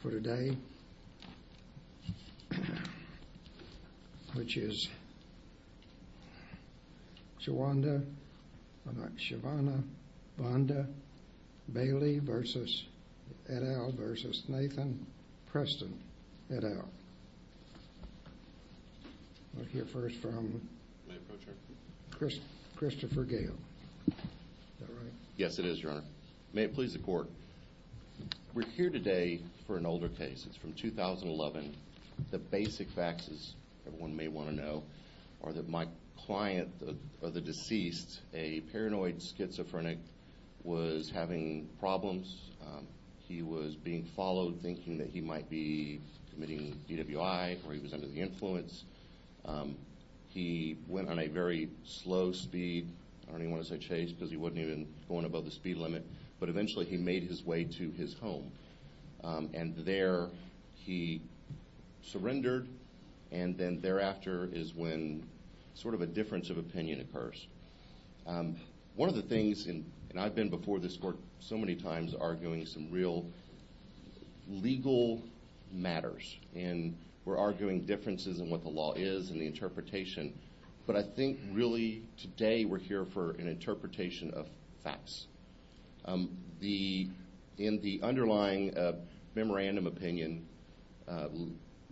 For today, which is Shavonda, Shavonda, Bonda, Bailey v. et al. v. Nathan Preston et al. We'll hear first from Christopher Gale. Yes it is, Your Honor. May it please the Court. We're here today for an older case. It's from 2011. The basic facts, as everyone may want to know, are that my client, or the deceased, a paranoid schizophrenic, was having problems. He was being followed, thinking that he might be committing DWI, or he was under the influence. He went on a very slow speed, I don't even want to say chase, because he wasn't even going above the speed limit. But eventually he made his way to his home. And there he surrendered, and then thereafter is when sort of a difference of opinion occurs. One of the things, and I've been before this Court so many times, arguing some real legal matters. And we're arguing differences in what the law is, and the interpretation. But I think really today we're here for an interpretation of facts. In the underlying memorandum opinion,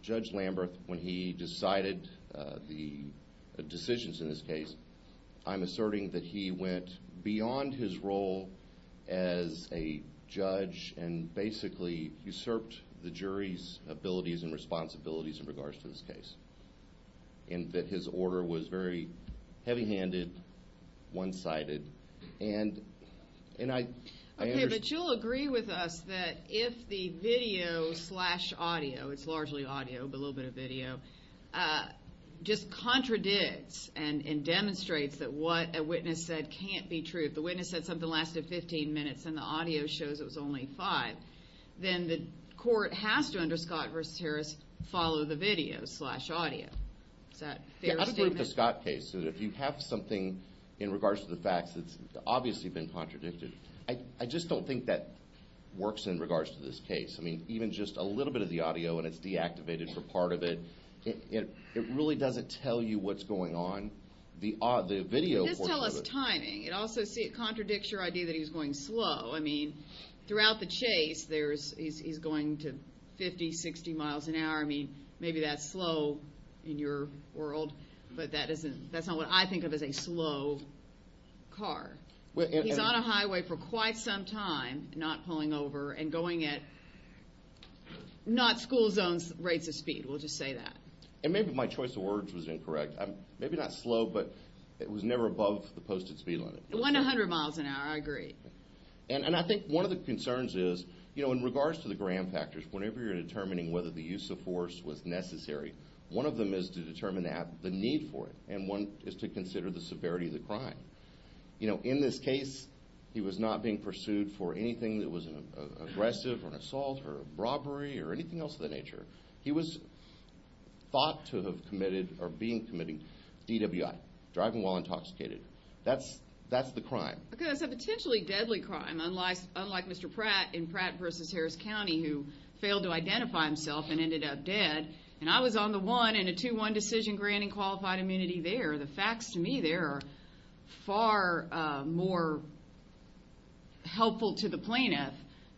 Judge Lamberth, when he decided the decisions in this case, I'm asserting that he went beyond his role as a judge, and basically usurped the jury's abilities and responsibilities in regards to this case. And that his order was very heavy-handed, one-sided, and I... Okay, but you'll agree with us that if the video slash audio, it's largely audio, but a little bit of video, just contradicts and demonstrates that what a witness said can't be true. If the witness said something lasted 15 minutes, and the audio shows it was only 5, then the court has to, under Scott v. Harris, follow the video slash audio. Is that a fair statement? Yeah, I don't agree with the Scott case. If you have something in regards to the facts that's obviously been contradicted, I just don't think that works in regards to this case. I mean, even just a little bit of the audio, and it's deactivated for part of it, it really doesn't tell you what's going on. The video portion of it... It does tell us timing. It also contradicts your idea that he was going slow. I mean, throughout the chase, he's going to 50, 60 miles an hour. I mean, maybe that's slow in your world, but that's not what I think of as a slow car. He's on a highway for quite some time, not pulling over, and going at not school zone rates of speed. We'll just say that. And maybe my choice of words was incorrect. Maybe not slow, but it was never above the posted speed limit. 100 miles an hour, I agree. And I think one of the concerns is, you know, in regards to the Graham factors, whenever you're determining whether the use of force was necessary, one of them is to determine the need for it, and one is to consider the severity of the crime. You know, in this case, he was not being pursued for anything that was an aggressive, or an assault, or a robbery, or anything else of that nature. He was thought to have committed, or being committed, DWI, driving while intoxicated. That's the crime. Okay, that's a potentially deadly crime, unlike Mr. Pratt in Pratt v. Harris County, who failed to identify himself and ended up dead. And I was on the one in a 2-1 decision granting qualified immunity there. The facts to me there are far more helpful to the plaintiff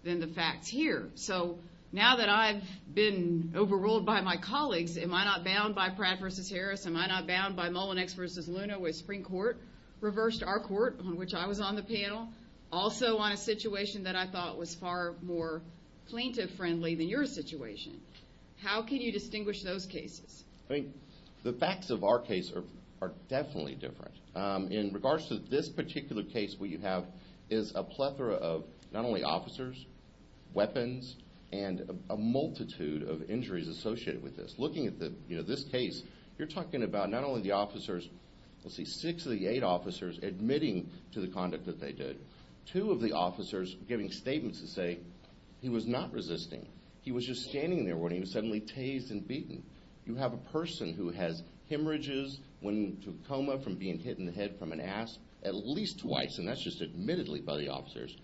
than the facts here. So now that I've been overruled by my colleagues, am I not bound by Pratt v. Harris? Am I not bound by Mullinex v. Luna with Supreme Court? Reversed our court, on which I was on the panel, also on a situation that I thought was far more plaintiff-friendly than your situation. How can you distinguish those cases? I think the facts of our case are definitely different. In regards to this particular case, what you have is a plethora of not only officers, weapons, and a multitude of injuries associated with this. Looking at this case, you're talking about not only the officers, let's see, six of the eight officers admitting to the conduct that they did. Two of the officers giving statements that say he was not resisting. He was just standing there when he was suddenly tased and beaten. You have a person who has hemorrhages, went into a coma from being hit in the head from an ass, at least twice, and that's just admittedly by the officers,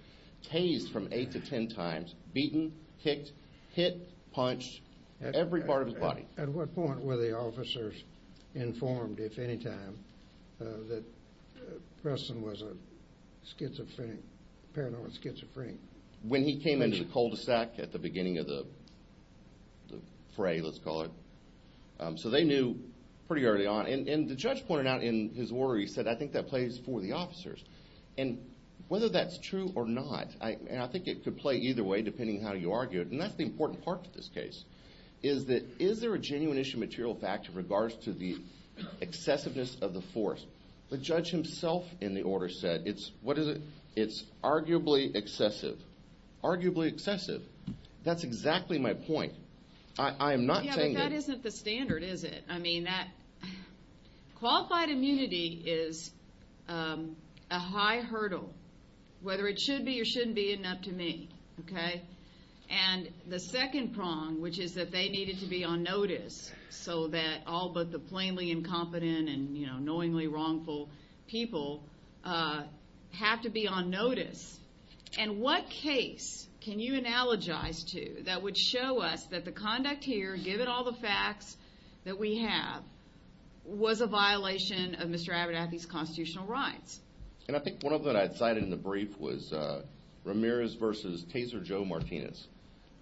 tased from eight to ten times, beaten, kicked, hit, punched, every part of his body. At what point were the officers informed, if any time, that Preston was a schizophrenic, paranoid schizophrenic? When he came into the cul-de-sac at the beginning of the fray, let's call it. So they knew pretty early on. And the judge pointed out in his order, he said, I think that plays for the officers. And whether that's true or not, and I think it could play either way depending on how you argue it, and that's the important part of this case, is that is there a genuine issue of material fact in regards to the excessiveness of the force? The judge himself in the order said it's arguably excessive. Arguably excessive. That's exactly my point. I am not saying that. Yeah, but that isn't the standard, is it? Qualified immunity is a high hurdle, whether it should be or shouldn't be, isn't up to me. And the second prong, which is that they needed to be on notice, so that all but the plainly incompetent and knowingly wrongful people have to be on notice. And what case can you analogize to that would show us that the conduct here, given all the facts that we have, was a violation of Mr. Aberdathy's constitutional rights? And I think one of them that I cited in the brief was Ramirez v. Taser Joe Martinez.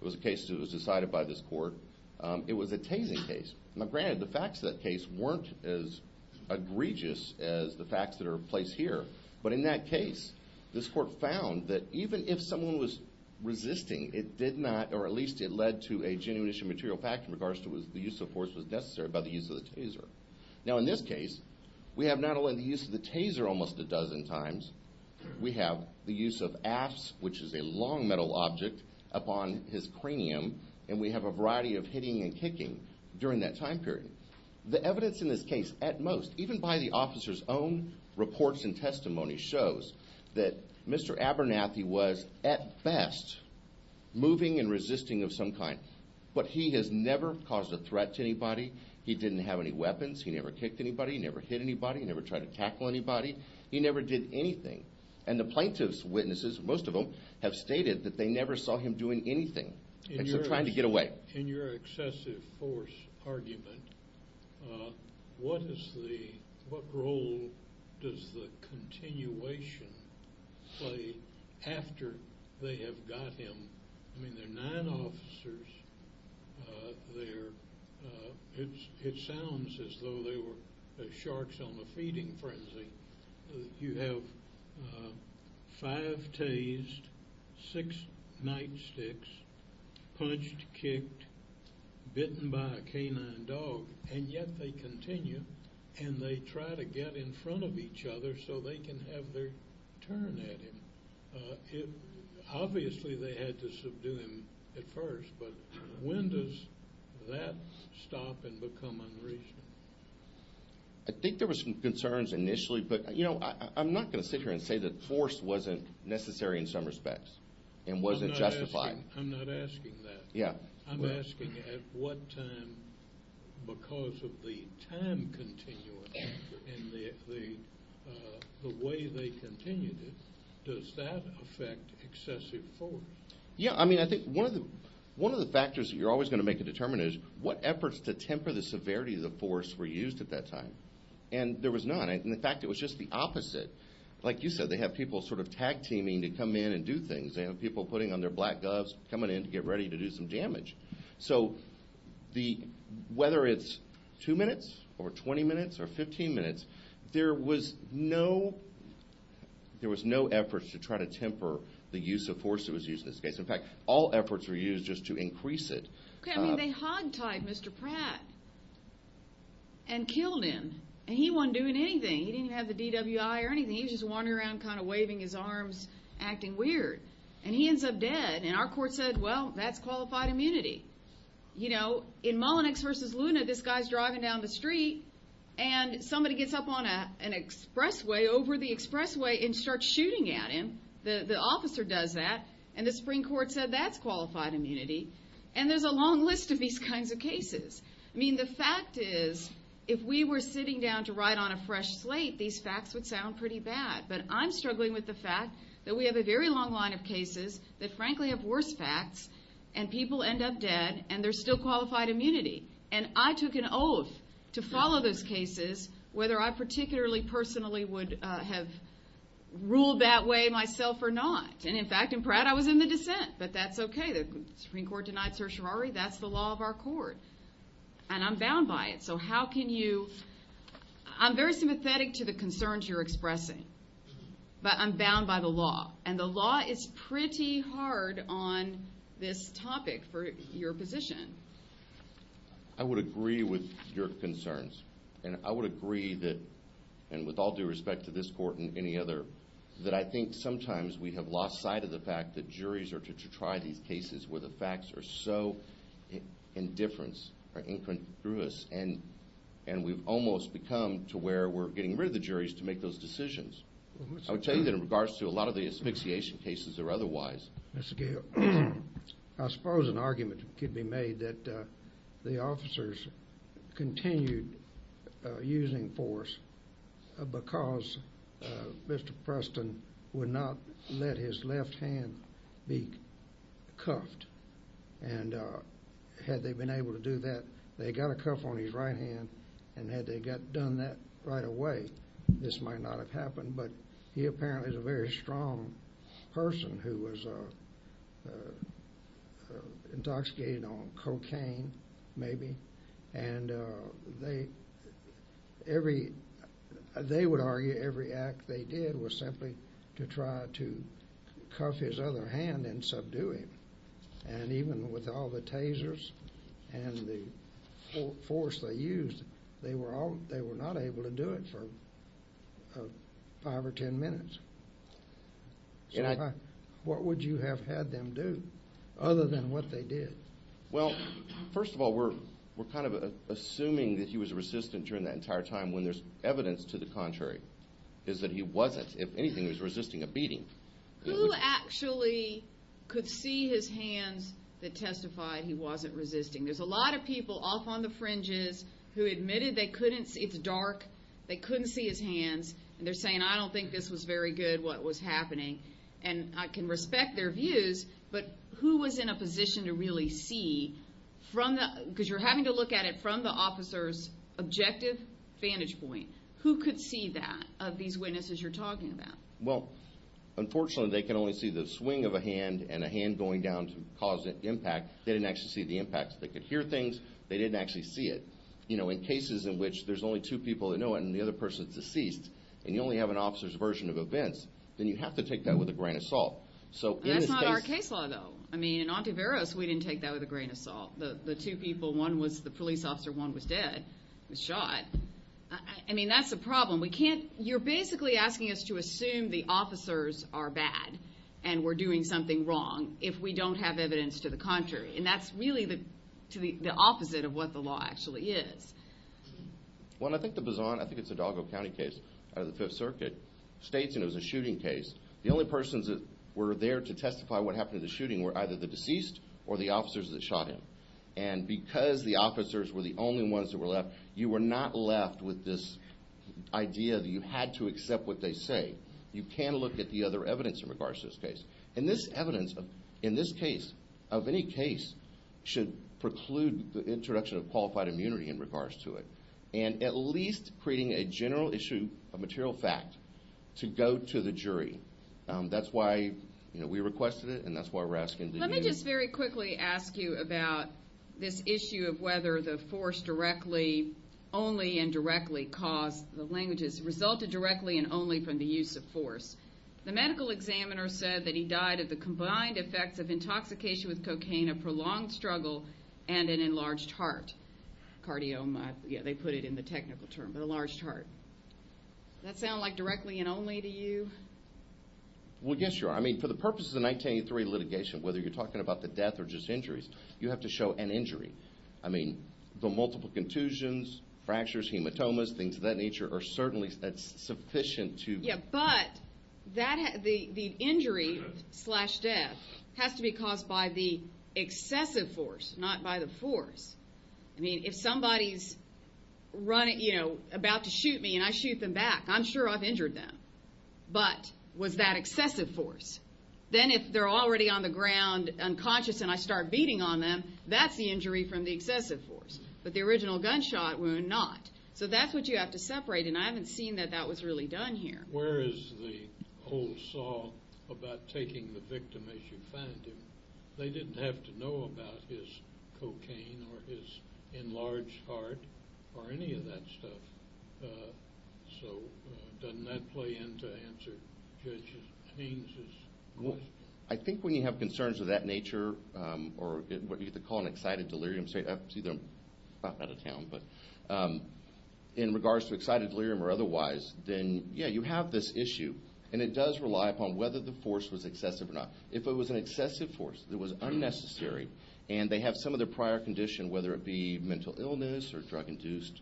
It was a case that was decided by this court. It was a tasing case. Now, granted, the facts of that case weren't as egregious as the facts that are in place here, but in that case, this court found that even if someone was resisting, it did not, or at least it led to a genuine issue of material fact in regards to the use of force that was necessary by the use of the taser. Now, in this case, we have not only the use of the taser almost a dozen times, we have the use of afts, which is a long metal object upon his cranium, and we have a variety of hitting and kicking during that time period. The evidence in this case, at most, even by the officer's own reports and testimony, shows that Mr. Aberdathy was, at best, moving and resisting of some kind, but he has never caused a threat to anybody. He didn't have any weapons. He never kicked anybody. He never hit anybody. He never tried to tackle anybody. He never did anything. And the plaintiff's witnesses, most of them, have stated that they never saw him doing anything except trying to get away. In your excessive force argument, what role does the continuation play after they have got him? I mean, there are nine officers there. It sounds as though they were sharks on a feeding frenzy. You have five tased, six nightsticks, punched, kicked, bitten by a canine dog, and yet they continue and they try to get in front of each other so they can have their turn at him. Obviously, they had to subdue him at first, but when does that stop and become unreasonable? I think there were some concerns initially, but, you know, I'm not going to sit here and say that force wasn't necessary in some respects and wasn't justified. I'm not asking that. Yeah. I'm asking at what time, because of the time continuum and the way they continued it, does that affect excessive force? Yeah. I mean, I think one of the factors that you're always going to make a determination is what efforts to temper the severity of the force were used at that time, and there was none. In fact, it was just the opposite. Like you said, they have people sort of tag-teaming to come in and do things. They have people putting on their black gloves, coming in to get ready to do some damage. So whether it's two minutes or 20 minutes or 15 minutes, there was no effort to try to temper the use of force that was used in this case. In fact, all efforts were used just to increase it. Okay. I mean, they hog-tied Mr. Pratt and killed him, and he wasn't doing anything. He didn't have the DWI or anything. He was just wandering around kind of waving his arms, acting weird, and he ends up dead. And our court said, well, that's qualified immunity. You know, in Mullenix v. Luna, this guy's driving down the street, and somebody gets up on an expressway over the expressway and starts shooting at him. The officer does that, and the Supreme Court said that's qualified immunity. And there's a long list of these kinds of cases. I mean, the fact is, if we were sitting down to write on a fresh slate, these facts would sound pretty bad. But I'm struggling with the fact that we have a very long line of cases that, frankly, have worse facts, and people end up dead, and there's still qualified immunity. And I took an oath to follow those cases, whether I particularly personally would have ruled that way myself or not. And, in fact, in Pratt, I was in the dissent. But that's okay. The Supreme Court denied certiorari. That's the law of our court, and I'm bound by it. So how can you – I'm very sympathetic to the concerns you're expressing, but I'm bound by the law. And the law is pretty hard on this topic for your position. I would agree with your concerns, and I would agree that – and with all due respect to this court and any other – that I think sometimes we have lost sight of the fact that juries are to try these cases where the facts are so indifference or incongruous, and we've almost become to where we're getting rid of the juries to make those decisions. I would tell you that in regards to a lot of the asphyxiation cases or otherwise. Mr. Gale, I suppose an argument could be made that the officers continued using force because Mr. Preston would not let his left hand be cuffed. And had they been able to do that, they got a cuff on his right hand. And had they done that right away, this might not have happened. But he apparently is a very strong person who was intoxicated on cocaine maybe. And they would argue every act they did was simply to try to cuff his other hand and subdue him. And even with all the tasers and the force they used, they were not able to do it for five or ten minutes. So what would you have had them do other than what they did? Well, first of all, we're kind of assuming that he was resistant during that entire time when there's evidence to the contrary, is that he wasn't. If anything, he was resisting a beating. Who actually could see his hands that testified he wasn't resisting? There's a lot of people off on the fringes who admitted it's dark, they couldn't see his hands, and they're saying, I don't think this was very good, what was happening. And I can respect their views, but who was in a position to really see, because you're having to look at it from the officer's objective vantage point, who could see that of these witnesses you're talking about? Well, unfortunately, they can only see the swing of a hand and a hand going down to cause an impact. They didn't actually see the impact. They could hear things, they didn't actually see it. In cases in which there's only two people that know it and the other person's deceased, and you only have an officer's version of events, then you have to take that with a grain of salt. That's not our case law, though. I mean, in Ontiveros, we didn't take that with a grain of salt. The two people, one was the police officer, one was dead, was shot. I mean, that's a problem. You're basically asking us to assume the officers are bad and we're doing something wrong if we don't have evidence to the contrary, and that's really the opposite of what the law actually is. Well, I think the Bazan, I think it's a Dalgo County case out of the Fifth Circuit, states it was a shooting case. The only persons that were there to testify what happened in the shooting were either the deceased or the officers that shot him. And because the officers were the only ones that were left, you were not left with this idea that you had to accept what they say. You can look at the other evidence in regards to this case. And this evidence in this case, of any case, should preclude the introduction of qualified immunity in regards to it and at least creating a general issue of material fact to go to the jury. That's why we requested it, and that's why we're asking to you. Let me just very quickly ask you about this issue of whether the force directly, only and directly caused the languages, resulted directly and only from the use of force. The medical examiner said that he died of the combined effects of intoxication with cocaine, a prolonged struggle, and an enlarged heart. Cardiomyopathy, they put it in the technical term, but enlarged heart. Does that sound like directly and only to you? Well, yes, Your Honor. I mean, for the purposes of 1983 litigation, whether you're talking about the death or just injuries, you have to show an injury. I mean, the multiple contusions, fractures, hematomas, things of that nature, are certainly sufficient to... Yeah, but the injury slash death has to be caused by the excessive force, not by the force. I mean, if somebody's about to shoot me and I shoot them back, I'm sure I've injured them. But was that excessive force? Then if they're already on the ground unconscious and I start beating on them, that's the injury from the excessive force. But the original gunshot wound, not. So that's what you have to separate, and I haven't seen that that was really done here. Where is the whole song about taking the victim as you find him? They didn't have to know about his cocaine or his enlarged heart or any of that stuff. So doesn't that play into Judge Haynes' question? I think when you have concerns of that nature or what you call an excited delirium, I'm out of town, but in regards to excited delirium or otherwise, then, yeah, you have this issue, and it does rely upon whether the force was excessive or not. If it was an excessive force, it was unnecessary, and they have some of their prior condition, whether it be mental illness or drug-induced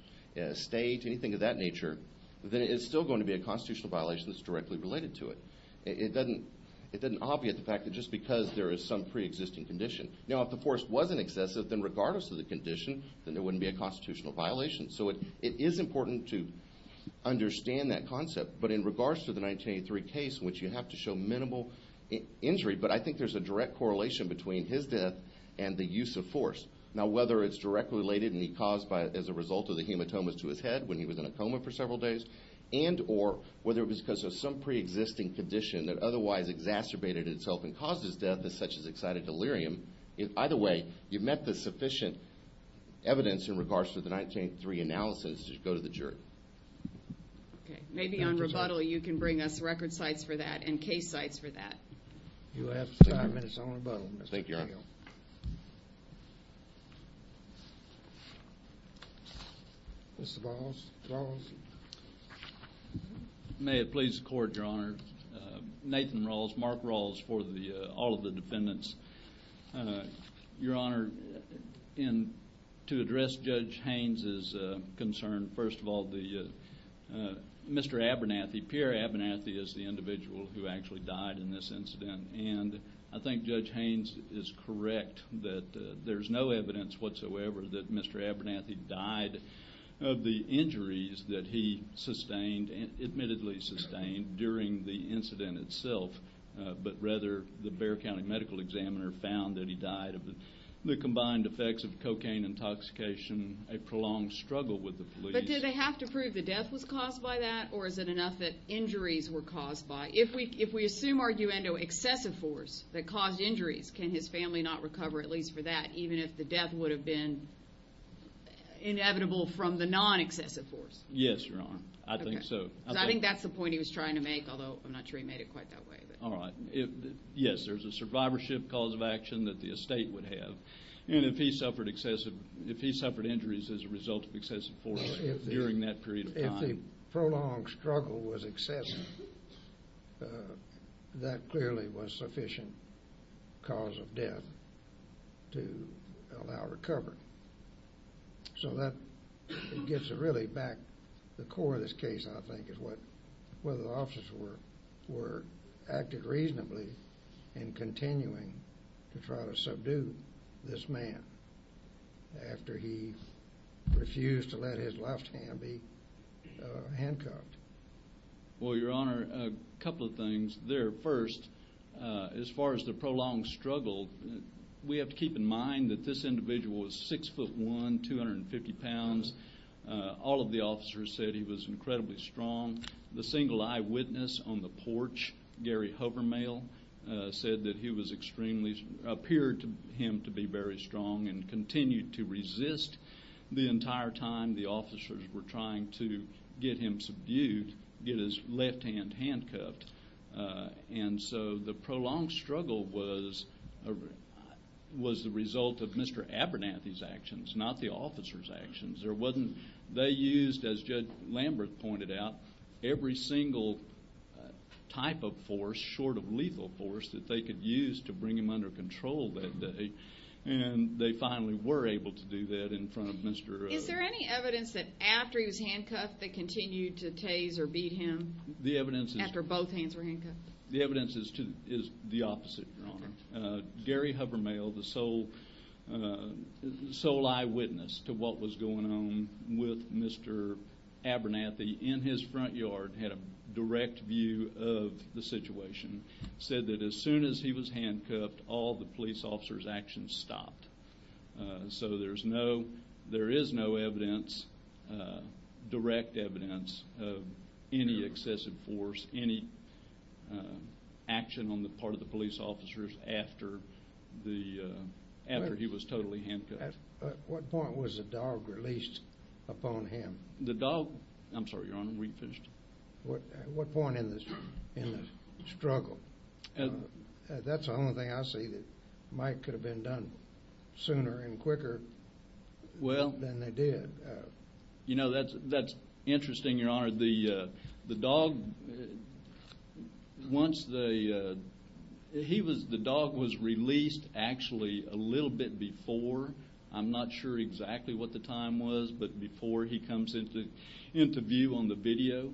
state, anything of that nature, then it's still going to be a constitutional violation that's directly related to it. It doesn't obviate the fact that just because there is some preexisting condition. Now, if the force wasn't excessive, then regardless of the condition, then there wouldn't be a constitutional violation. So it is important to understand that concept, but in regards to the 1983 case, which you have to show minimal injury, but I think there's a direct correlation between his death and the use of force. Now, whether it's directly related and he caused as a result of the hematomas to his head when he was in a coma for several days and or whether it was because of some preexisting condition that otherwise exacerbated itself and caused his death as such as excited delirium, either way, you've met the sufficient evidence in regards to the 1983 analysis to go to the jury. Okay. Maybe on rebuttal you can bring us record sites for that and case sites for that. You have five minutes on rebuttal, Mr. Cahill. Thank you, Your Honor. Mr. Balls? May it please the Court, Your Honor. Nathan Rawls, Mark Rawls for all of the defendants. Your Honor, to address Judge Haynes' concern, first of all, Mr. Abernathy, Pierre Abernathy is the individual who actually died in this incident, and I think Judge Haynes is correct that there's no evidence whatsoever that Mr. Abernathy died of the injuries that he sustained and admittedly sustained during the incident itself, but rather the Bexar County medical examiner found that he died of the combined effects of cocaine intoxication, a prolonged struggle with the police. But did they have to prove the death was caused by that, or is it enough that injuries were caused by it? If we assume arguendo excessive force that caused injuries, can his family not recover at least for that, even if the death would have been inevitable from the non-excessive force? Yes, Your Honor, I think so. I think that's the point he was trying to make, although I'm not sure he made it quite that way. All right. Yes, there's a survivorship cause of action that the estate would have, and if he suffered injuries as a result of excessive force during that period of time. If the prolonged struggle was excessive, that clearly was sufficient cause of death to allow recovery. So that gets really back to the core of this case, I think, is whether the officers were acting reasonably in continuing to try to subdue this man after he refused to let his left hand be handcuffed. Well, Your Honor, a couple of things there. First, as far as the prolonged struggle, we have to keep in mind that this individual was 6'1", 250 pounds. All of the officers said he was incredibly strong. The single eyewitness on the porch, Gary Hovermail, said that he was extremely-appeared to him to be very strong and continued to resist the entire time the officers were trying to get him subdued, get his left hand handcuffed. And so the prolonged struggle was the result of Mr. Abernathy's actions, not the officers' actions. They used, as Judge Lambert pointed out, every single type of force short of lethal force that they could use to bring him under control that day, and they finally were able to do that in front of Mr. Abernathy. Is there any evidence that after he was handcuffed they continued to tase or beat him? The evidence is the opposite, Your Honor. Gary Hovermail, the sole eyewitness to what was going on with Mr. Abernathy in his front yard, had a direct view of the situation, said that as soon as he was handcuffed, all the police officers' actions stopped. So there is no evidence, direct evidence of any excessive force, any action on the part of the police officers after he was totally handcuffed. At what point was the dog released upon him? The dog-I'm sorry, Your Honor, we finished. At what point in the struggle? That's the only thing I see that might could have been done sooner and quicker than they did. You know, that's interesting, Your Honor. The dog-once the-he was-the dog was released actually a little bit before. I'm not sure exactly what the time was, but before he comes into view on the video.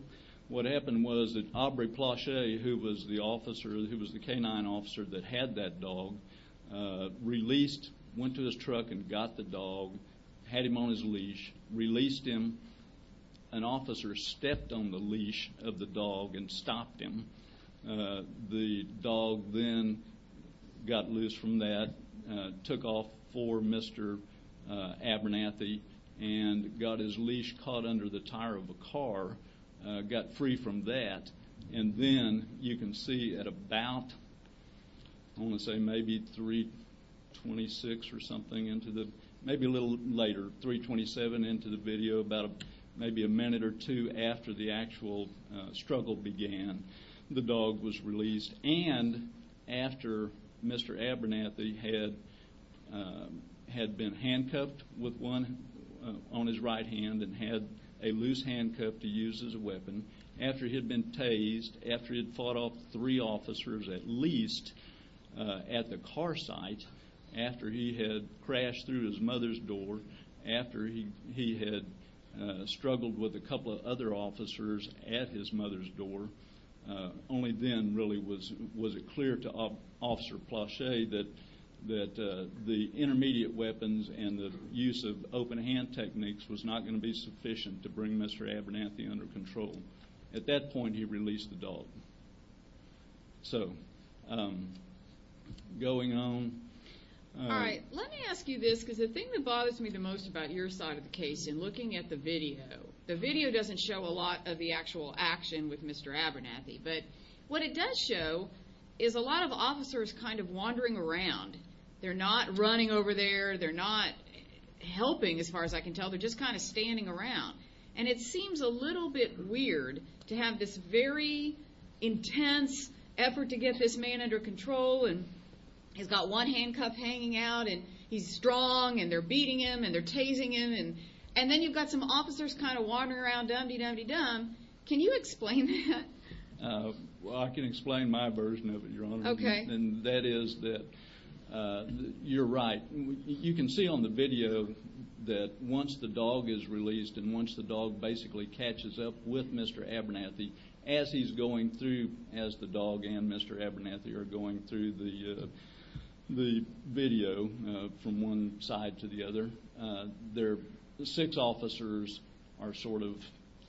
What happened was that Aubrey Plache, who was the officer, who was the canine officer that had that dog, released, went to his truck and got the dog, had him on his leash, released him. An officer stepped on the leash of the dog and stopped him. The dog then got loose from that, took off for Mr. Abernathy, and got his leash caught under the tire of a car, got free from that. And then you can see at about, I want to say maybe 326 or something into the-maybe a little later, 327 into the video, about maybe a minute or two after the actual struggle began, the dog was released. And after Mr. Abernathy had been handcuffed with one on his right hand and had a loose handcuff to use as a weapon, after he had been tased, after he had fought off three officers at least at the car site, after he had crashed through his mother's door, after he had struggled with a couple of other officers at his mother's door, only then really was it clear to Officer Plache that the intermediate weapons and the use of open hand techniques was not going to be sufficient to bring Mr. Abernathy under control. At that point, he released the dog. So, going on. All right. Let me ask you this because the thing that bothers me the most about your side of the case in looking at the video, the video doesn't show a lot of the actual action with Mr. Abernathy, but what it does show is a lot of officers kind of wandering around. They're not running over there. They're not helping as far as I can tell. They're just kind of standing around. And it seems a little bit weird to have this very intense effort to get this man under control, and he's got one handcuff hanging out, and he's strong, and they're beating him, and they're tasing him, and then you've got some officers kind of wandering around, dum-de-dum-de-dum. Can you explain that? Well, I can explain my version of it, Your Honor. Okay. And that is that you're right. You can see on the video that once the dog is released and once the dog basically catches up with Mr. Abernathy as he's going through, as the dog and Mr. Abernathy are going through the video from one side to the other, their six officers are sort of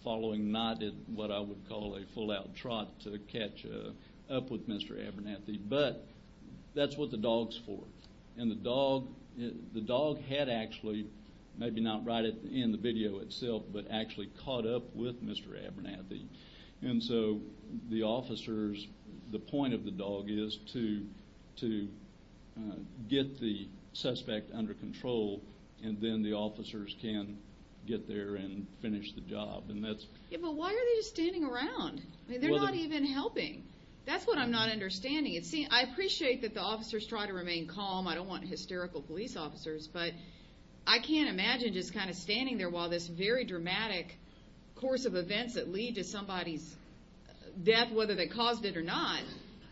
following, not in what I would call a full-out trot, to catch up with Mr. Abernathy, but that's what the dog's for. And the dog had actually, maybe not right in the video itself, but actually caught up with Mr. Abernathy. And so the officers, the point of the dog is to get the suspect under control, and then the officers can get there and finish the job. Yeah, but why are they just standing around? I mean, they're not even helping. That's what I'm not understanding. See, I appreciate that the officers try to remain calm. I don't want hysterical police officers, but I can't imagine just kind of standing there while this very dramatic course of events that lead to somebody's death, whether they caused it or not,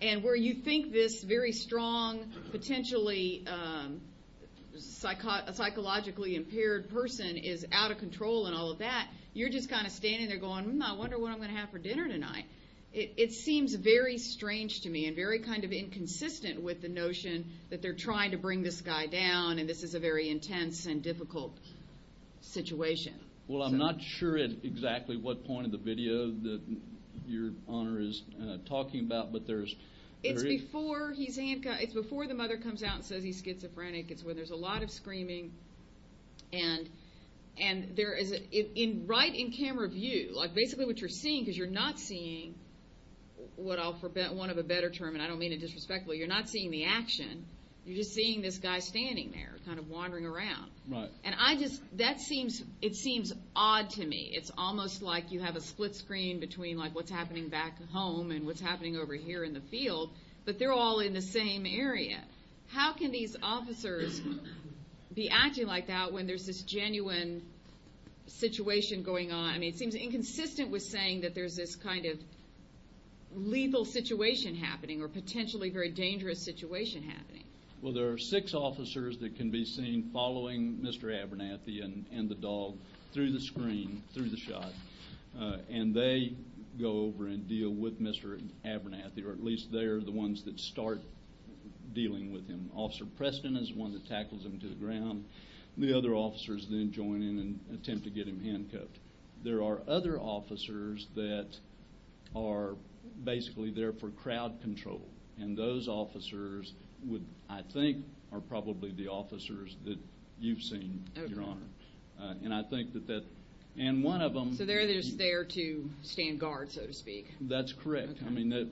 and where you think this very strong, potentially psychologically impaired person is out of control and all of that, you're just kind of standing there going, I wonder what I'm going to have for dinner tonight. It seems very strange to me and very kind of inconsistent with the notion that they're trying to bring this guy down, and this is a very intense and difficult situation. Well, I'm not sure at exactly what point of the video that your Honor is talking about, but there is – It's before he's – it's before the mother comes out and says he's schizophrenic. It's when there's a lot of screaming, and there is – right in camera view, like basically what you're seeing, because you're not seeing what I'll – that's one of a better term, and I don't mean it disrespectfully. You're not seeing the action. You're just seeing this guy standing there kind of wandering around. And I just – that seems – it seems odd to me. It's almost like you have a split screen between like what's happening back home and what's happening over here in the field, but they're all in the same area. How can these officers be acting like that when there's this genuine situation going on? I mean, it seems inconsistent with saying that there's this kind of lethal situation happening or potentially very dangerous situation happening. Well, there are six officers that can be seen following Mr. Abernathy and the dog through the screen, through the shot, and they go over and deal with Mr. Abernathy, or at least they're the ones that start dealing with him. Officer Preston is the one that tackles him to the ground. The other officers then join in and attempt to get him handcuffed. There are other officers that are basically there for crowd control, and those officers I think are probably the officers that you've seen, Your Honor. And I think that that – and one of them – So they're just there to stand guard, so to speak. That's correct. I mean,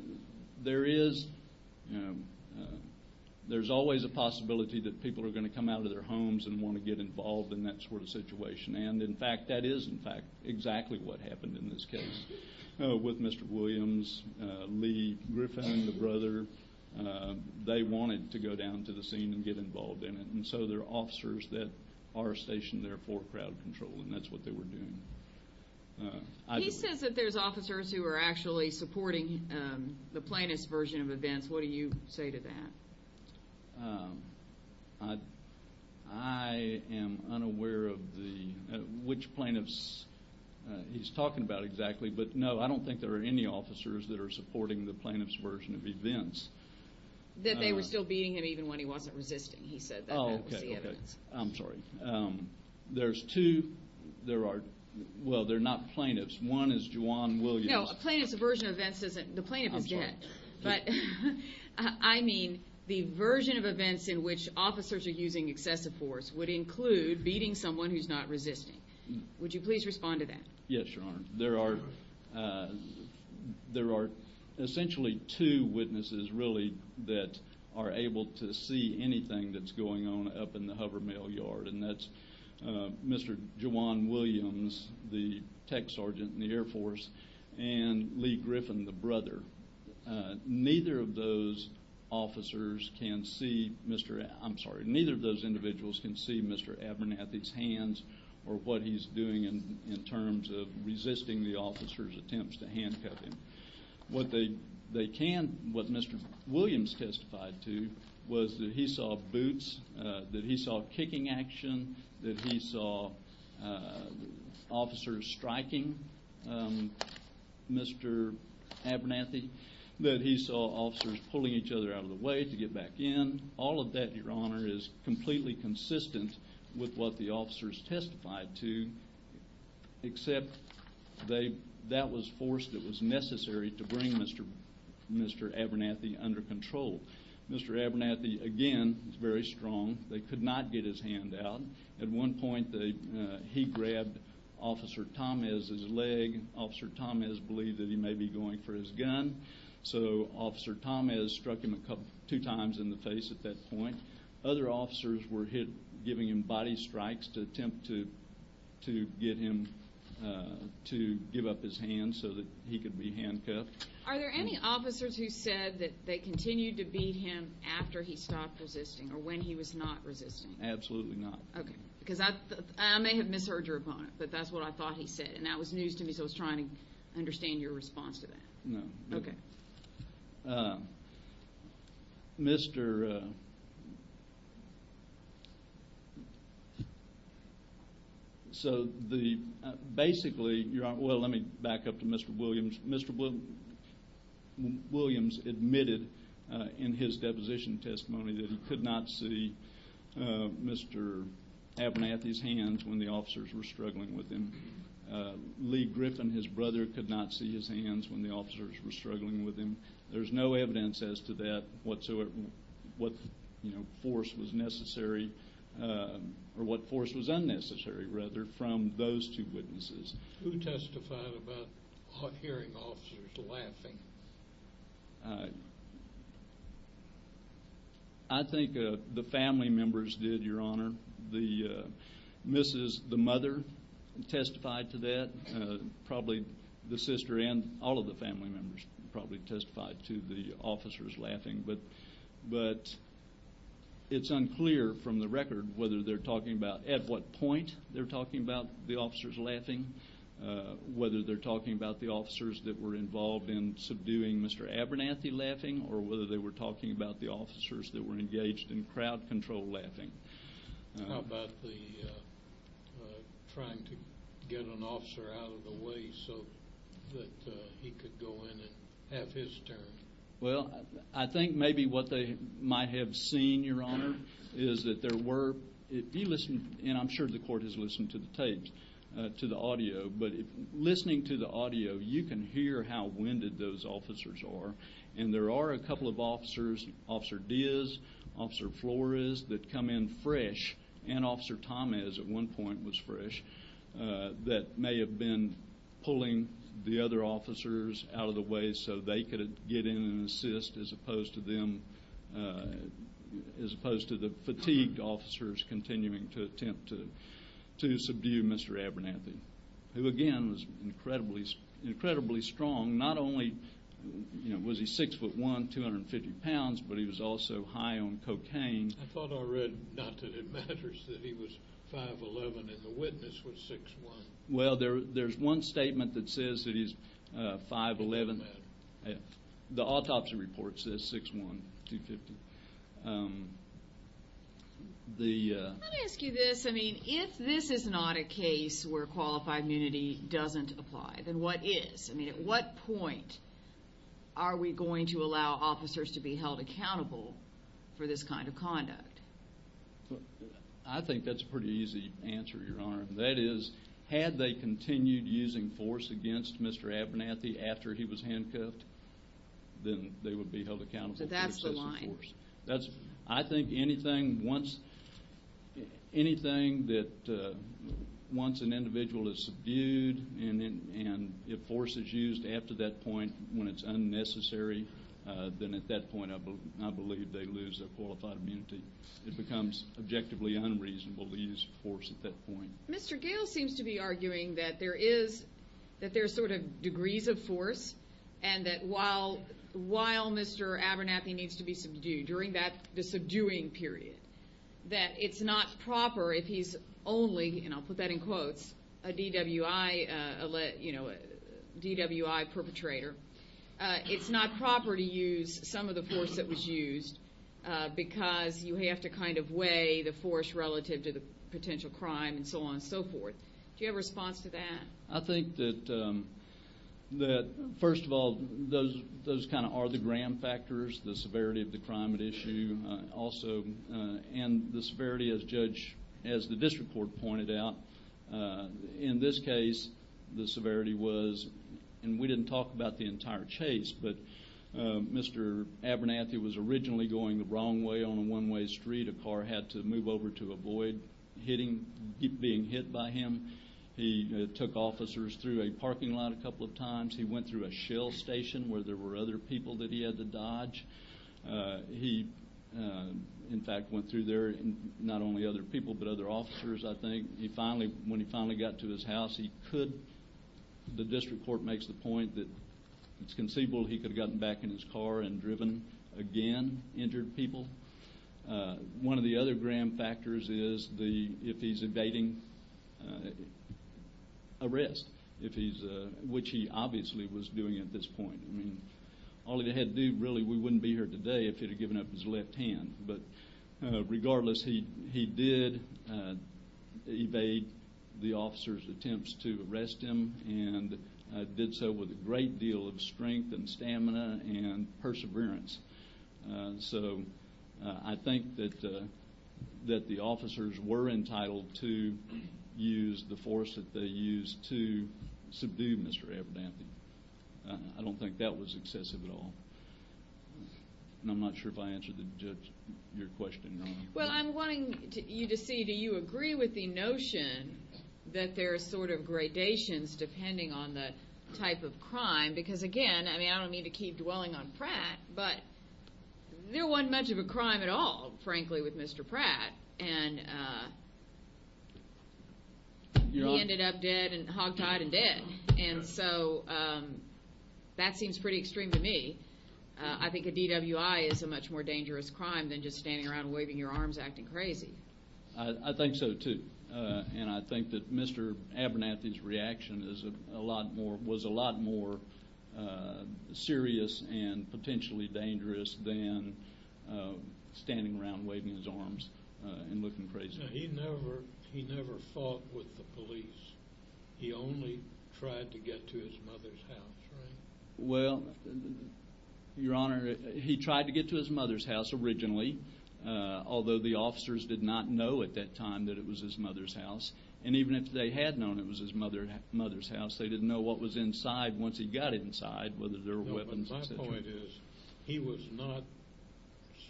there is – there's always a possibility that people are going to come out of their homes and want to get involved in that sort of situation, and, in fact, that is, in fact, exactly what happened in this case with Mr. Williams. Lee Griffin, the brother, they wanted to go down to the scene and get involved in it, and so there are officers that are stationed there for crowd control, and that's what they were doing. He says that there's officers who are actually supporting the plaintiff's version of events. What do you say to that? I am unaware of which plaintiffs he's talking about exactly, but, no, I don't think there are any officers that are supporting the plaintiff's version of events. That they were still beating him even when he wasn't resisting, he said. Oh, okay, okay. I'm sorry. There's two – there are – well, they're not plaintiffs. One is Juwan Williams. No, a plaintiff's version of events isn't – the plaintiff is dead. I'm sorry. But, I mean, the version of events in which officers are using excessive force would include beating someone who's not resisting. Would you please respond to that? Yes, Your Honor. There are essentially two witnesses, really, that are able to see anything that's going on up in the Hover Mail yard, and that's Mr. Juwan Williams, the tech sergeant in the Air Force, and Lee Griffin, the brother. Neither of those officers can see Mr. – I'm sorry. Neither of those individuals can see Mr. Abernathy's hands or what he's doing in terms of resisting the officer's attempts to handcuff him. What they can – what Mr. Williams testified to was that he saw boots, that he saw kicking action, that he saw officers striking Mr. Abernathy, that he saw officers pulling each other out of the way to get back in. All of that, Your Honor, is completely consistent with what the officers testified to, except that was forced. It was necessary to bring Mr. Abernathy under control. Mr. Abernathy, again, was very strong. They could not get his hand out. At one point, he grabbed Officer Tomez's leg. Officer Tomez believed that he may be going for his gun, so Officer Tomez struck him two times in the face at that point. Other officers were giving him body strikes to attempt to get him to give up his hand so that he could be handcuffed. Are there any officers who said that they continued to beat him after he stopped resisting or when he was not resisting? Absolutely not. Okay. Because I may have misheard your opponent, but that's what I thought he said, and that was news to me, so I was trying to understand your response to that. No. Okay. Mr. So basically, Your Honor, well, let me back up to Mr. Williams. Mr. Williams admitted in his deposition testimony that he could not see Mr. Abernathy's hands when the officers were struggling with him. Lee Griffin, his brother, could not see his hands when the officers were struggling with him. There's no evidence as to that whatsoever, what force was necessary or what force was unnecessary, rather, from those two witnesses. Who testified about hearing officers laughing? I think the family members did, Your Honor. The mother testified to that. Probably the sister and all of the family members probably testified to the officers laughing. But it's unclear from the record whether they're talking about at what point they're talking about the officers laughing, whether they're talking about the officers that were involved in subduing Mr. Abernathy laughing or whether they were talking about the officers that were engaged in crowd control laughing. How about the trying to get an officer out of the way so that he could go in and have his turn? Well, I think maybe what they might have seen, Your Honor, is that there were, if you listen, and I'm sure the court has listened to the tapes, to the audio, but listening to the audio, you can hear how winded those officers are. And there are a couple of officers, Officer Diaz, Officer Flores, that come in fresh, and Officer Tomez at one point was fresh, that may have been pulling the other officers out of the way so they could get in and assist as opposed to the fatigued officers continuing to attempt to subdue Mr. Abernathy, who, again, was incredibly strong. Not only was he 6'1", 250 pounds, but he was also high on cocaine. I thought I read not that it matters that he was 5'11", and the witness was 6'1". Well, there's one statement that says that he's 5'11". The autopsy report says 6'1", 250. Let me ask you this. If this is not a case where qualified immunity doesn't apply, then what is? At what point are we going to allow officers to be held accountable for this kind of conduct? I think that's a pretty easy answer, Your Honor. That is, had they continued using force against Mr. Abernathy after he was handcuffed, then they would be held accountable for excessive force. I think anything that once an individual is subdued and if force is used after that point when it's unnecessary, then at that point I believe they lose their qualified immunity. It becomes objectively unreasonable to use force at that point. Mr. Gale seems to be arguing that there is sort of degrees of force and that while Mr. Abernathy needs to be subdued during the subduing period, that it's not proper if he's only, and I'll put that in quotes, a DWI perpetrator. It's not proper to use some of the force that was used because you have to kind of weigh the force relative to the potential crime and so on and so forth. Do you have a response to that? I think that first of all, those kind of are the gram factors, the severity of the crime at issue also, and the severity as the district court pointed out. In this case, the severity was, and we didn't talk about the entire chase, but Mr. Abernathy was originally going the wrong way on a one-way street. A car had to move over to avoid being hit by him. He took officers through a parking lot a couple of times. He went through a shell station where there were other people that he had to dodge. He, in fact, went through there, not only other people but other officers, I think. When he finally got to his house, he could. The district court makes the point that it's conceivable he could have gotten back in his car and driven again, injured people. One of the other gram factors is if he's evading arrest, which he obviously was doing at this point. I mean, all he had to do, really, we wouldn't be here today if he'd have given up his left hand. But regardless, he did evade the officer's attempts to arrest him and did so with a great deal of strength and stamina and perseverance. So I think that the officers were entitled to use the force that they used to subdue Mr. Abernathy. I don't think that was excessive at all. And I'm not sure if I answered your question. Well, I'm wanting you to see do you agree with the notion that there are sort of gradations depending on the type of crime because, again, I mean, I don't mean to keep dwelling on Pratt, but there wasn't much of a crime at all, frankly, with Mr. Pratt. And he ended up dead and hogtied and dead. And so that seems pretty extreme to me. I think a DWI is a much more dangerous crime than just standing around waving your arms acting crazy. I think so, too. And I think that Mr. Abernathy's reaction was a lot more serious and potentially dangerous than standing around waving his arms and looking crazy. He never fought with the police. He only tried to get to his mother's house, right? Well, Your Honor, he tried to get to his mother's house originally, although the officers did not know at that time that it was his mother's house. And even if they had known it was his mother's house, they didn't know what was inside once he got inside, whether there were weapons, et cetera. No, but my point is he was not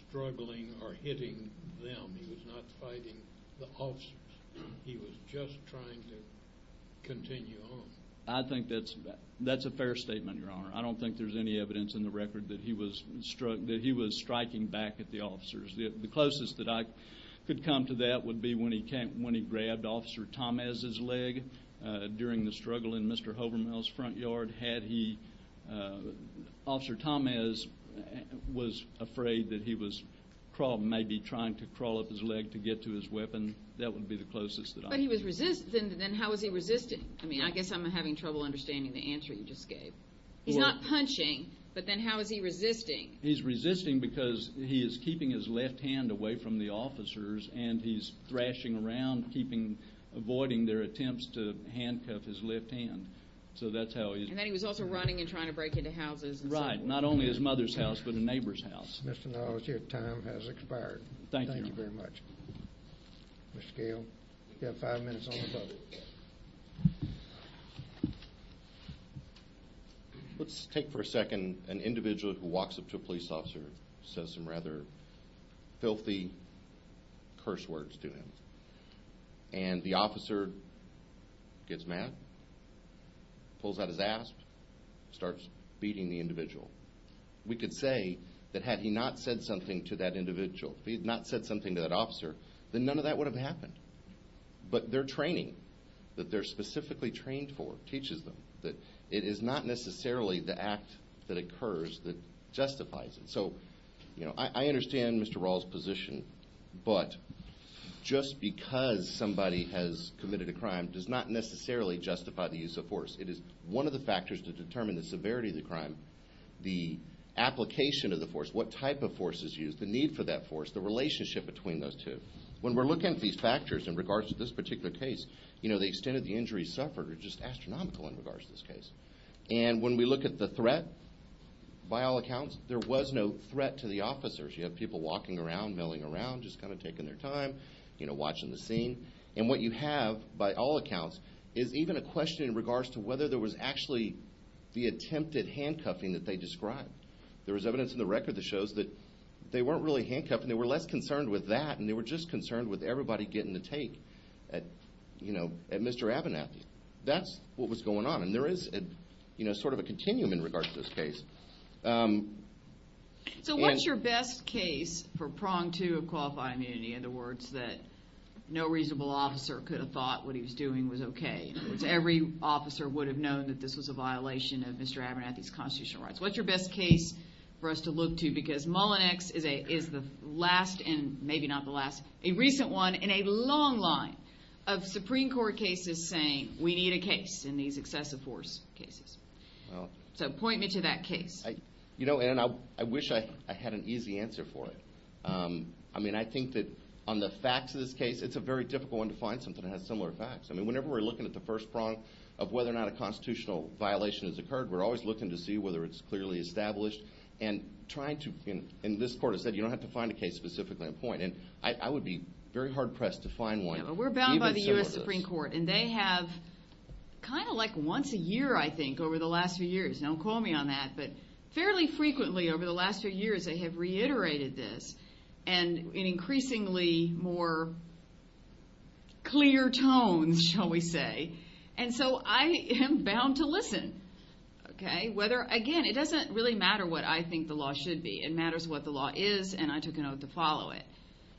struggling or hitting them. He was not fighting the officers. He was just trying to continue on. I think that's a fair statement, Your Honor. I don't think there's any evidence in the record that he was striking back at the officers. The closest that I could come to that would be when he grabbed Officer Tomasz's leg during the struggle in Mr. Holberman's front yard. Officer Tomasz was afraid that he was maybe trying to crawl up his leg to get to his weapon. That would be the closest that I could come to. But he was resisting. Then how was he resisting? I mean, I guess I'm having trouble understanding the answer you just gave. He's not punching, but then how is he resisting? He's resisting because he is keeping his left hand away from the officers and he's thrashing around avoiding their attempts to handcuff his left hand. So that's how he's resisting. And then he was also running and trying to break into houses. Right. Not only his mother's house, but a neighbor's house. Mr. Knowles, your time has expired. Thank you. Thank you very much. Mr. Gale, you have five minutes on the bubble. Let's take for a second an individual who walks up to a police officer and says some rather filthy curse words to him. And the officer gets mad, pulls out his asp, starts beating the individual. We could say that had he not said something to that individual, if he had not said something to that officer, then none of that would have happened. But their training, that they're specifically trained for, teaches them that it is not necessarily the act that occurs that justifies it. So I understand Mr. Raul's position, but just because somebody has committed a crime does not necessarily justify the use of force. It is one of the factors to determine the severity of the crime, the application of the force, what type of force is used, the need for that force, the relationship between those two. When we're looking at these factors in regards to this particular case, the extent of the injuries suffered are just astronomical in regards to this case. And when we look at the threat, by all accounts, there was no threat to the officers. You have people walking around, milling around, just kind of taking their time, watching the scene. And what you have, by all accounts, is even a question in regards to whether there was actually the attempted handcuffing that they described. There was evidence in the record that shows that they weren't really handcuffed and they were less concerned with that and they were just concerned with everybody getting a take at Mr. Abernathy. That's what was going on. And there is sort of a continuum in regards to this case. So what's your best case for prong two of qualifying immunity? In other words, that no reasonable officer could have thought what he was doing was okay. In other words, every officer would have known that this was a violation of Mr. Abernathy's constitutional rights. What's your best case for us to look to? Because Mullinex is the last, and maybe not the last, a recent one in a long line of Supreme Court cases saying we need a case in these excessive force cases. So point me to that case. You know, Ann, I wish I had an easy answer for it. I mean, I think that on the facts of this case, it's a very difficult one to find something that has similar facts. I mean, whenever we're looking at the first prong of whether or not a constitutional violation has occurred, we're always looking to see whether it's clearly established. And this Court has said you don't have to find a case specifically in point. And I would be very hard-pressed to find one even similar to this. Yeah, but we're bound by the U.S. Supreme Court. And they have kind of like once a year, I think, over the last few years. Don't call me on that. But fairly frequently over the last few years they have reiterated this in increasingly more clear tones, shall we say. And so I am bound to listen. Again, it doesn't really matter what I think the law should be. It matters what the law is, and I took an oath to follow it.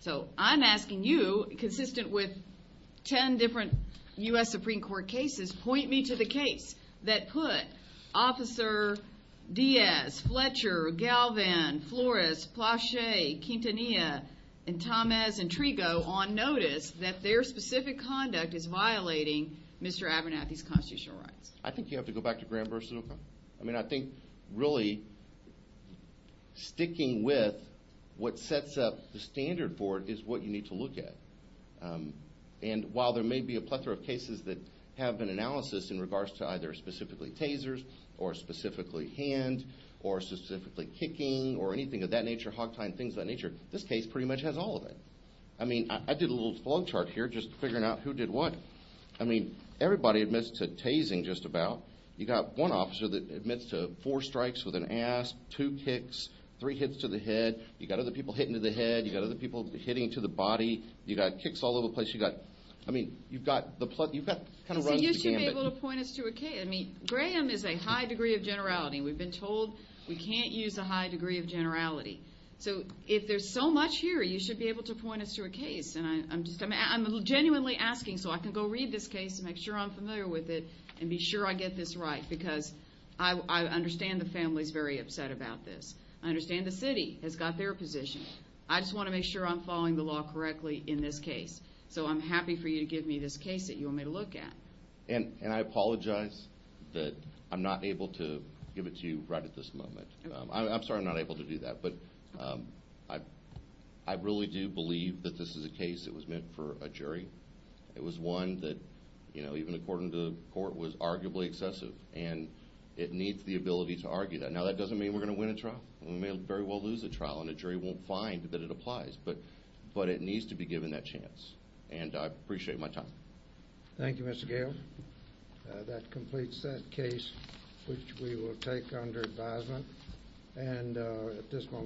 So I'm asking you, consistent with 10 different U.S. Supreme Court cases, point me to the case that put Officer Diaz, Fletcher, Galvan, Flores, Plasche, Quintanilla, and Tamez, and Trigo on notice that their specific conduct is violating Mr. Abernathy's constitutional rights. I think you have to go back to Graham v. O'Connor. I mean, I think really sticking with what sets up the standard board is what you need to look at. And while there may be a plethora of cases that have been analysed in regards to either specifically tasers or specifically hand or specifically kicking or anything of that nature, hog tying, things of that nature, this case pretty much has all of it. I mean, I did a little flow chart here just figuring out who did what. I mean, everybody admits to tasing just about. You've got one officer that admits to four strikes with an ass, two kicks, three hits to the head. You've got other people hitting to the head. You've got other people hitting to the body. You've got kicks all over the place. You've got kind of runs to the gambit. So you should be able to point us to a case. I mean, Graham is a high degree of generality. We've been told we can't use a high degree of generality. So if there's so much here, you should be able to point us to a case. And I'm genuinely asking so I can go read this case and make sure I'm familiar with it and be sure I get this right because I understand the family is very upset about this. I understand the city has got their position. I just want to make sure I'm following the law correctly in this case. So I'm happy for you to give me this case that you want me to look at. And I apologize that I'm not able to give it to you right at this moment. I'm sorry I'm not able to do that. But I really do believe that this is a case that was meant for a jury. It was one that, you know, even according to the court, was arguably excessive. And it needs the ability to argue that. Now, that doesn't mean we're going to win a trial. We may very well lose a trial, and a jury won't find that it applies. But it needs to be given that chance. And I appreciate my time. Thank you, Mr. Gale. That completes that case, which we will take under advisement.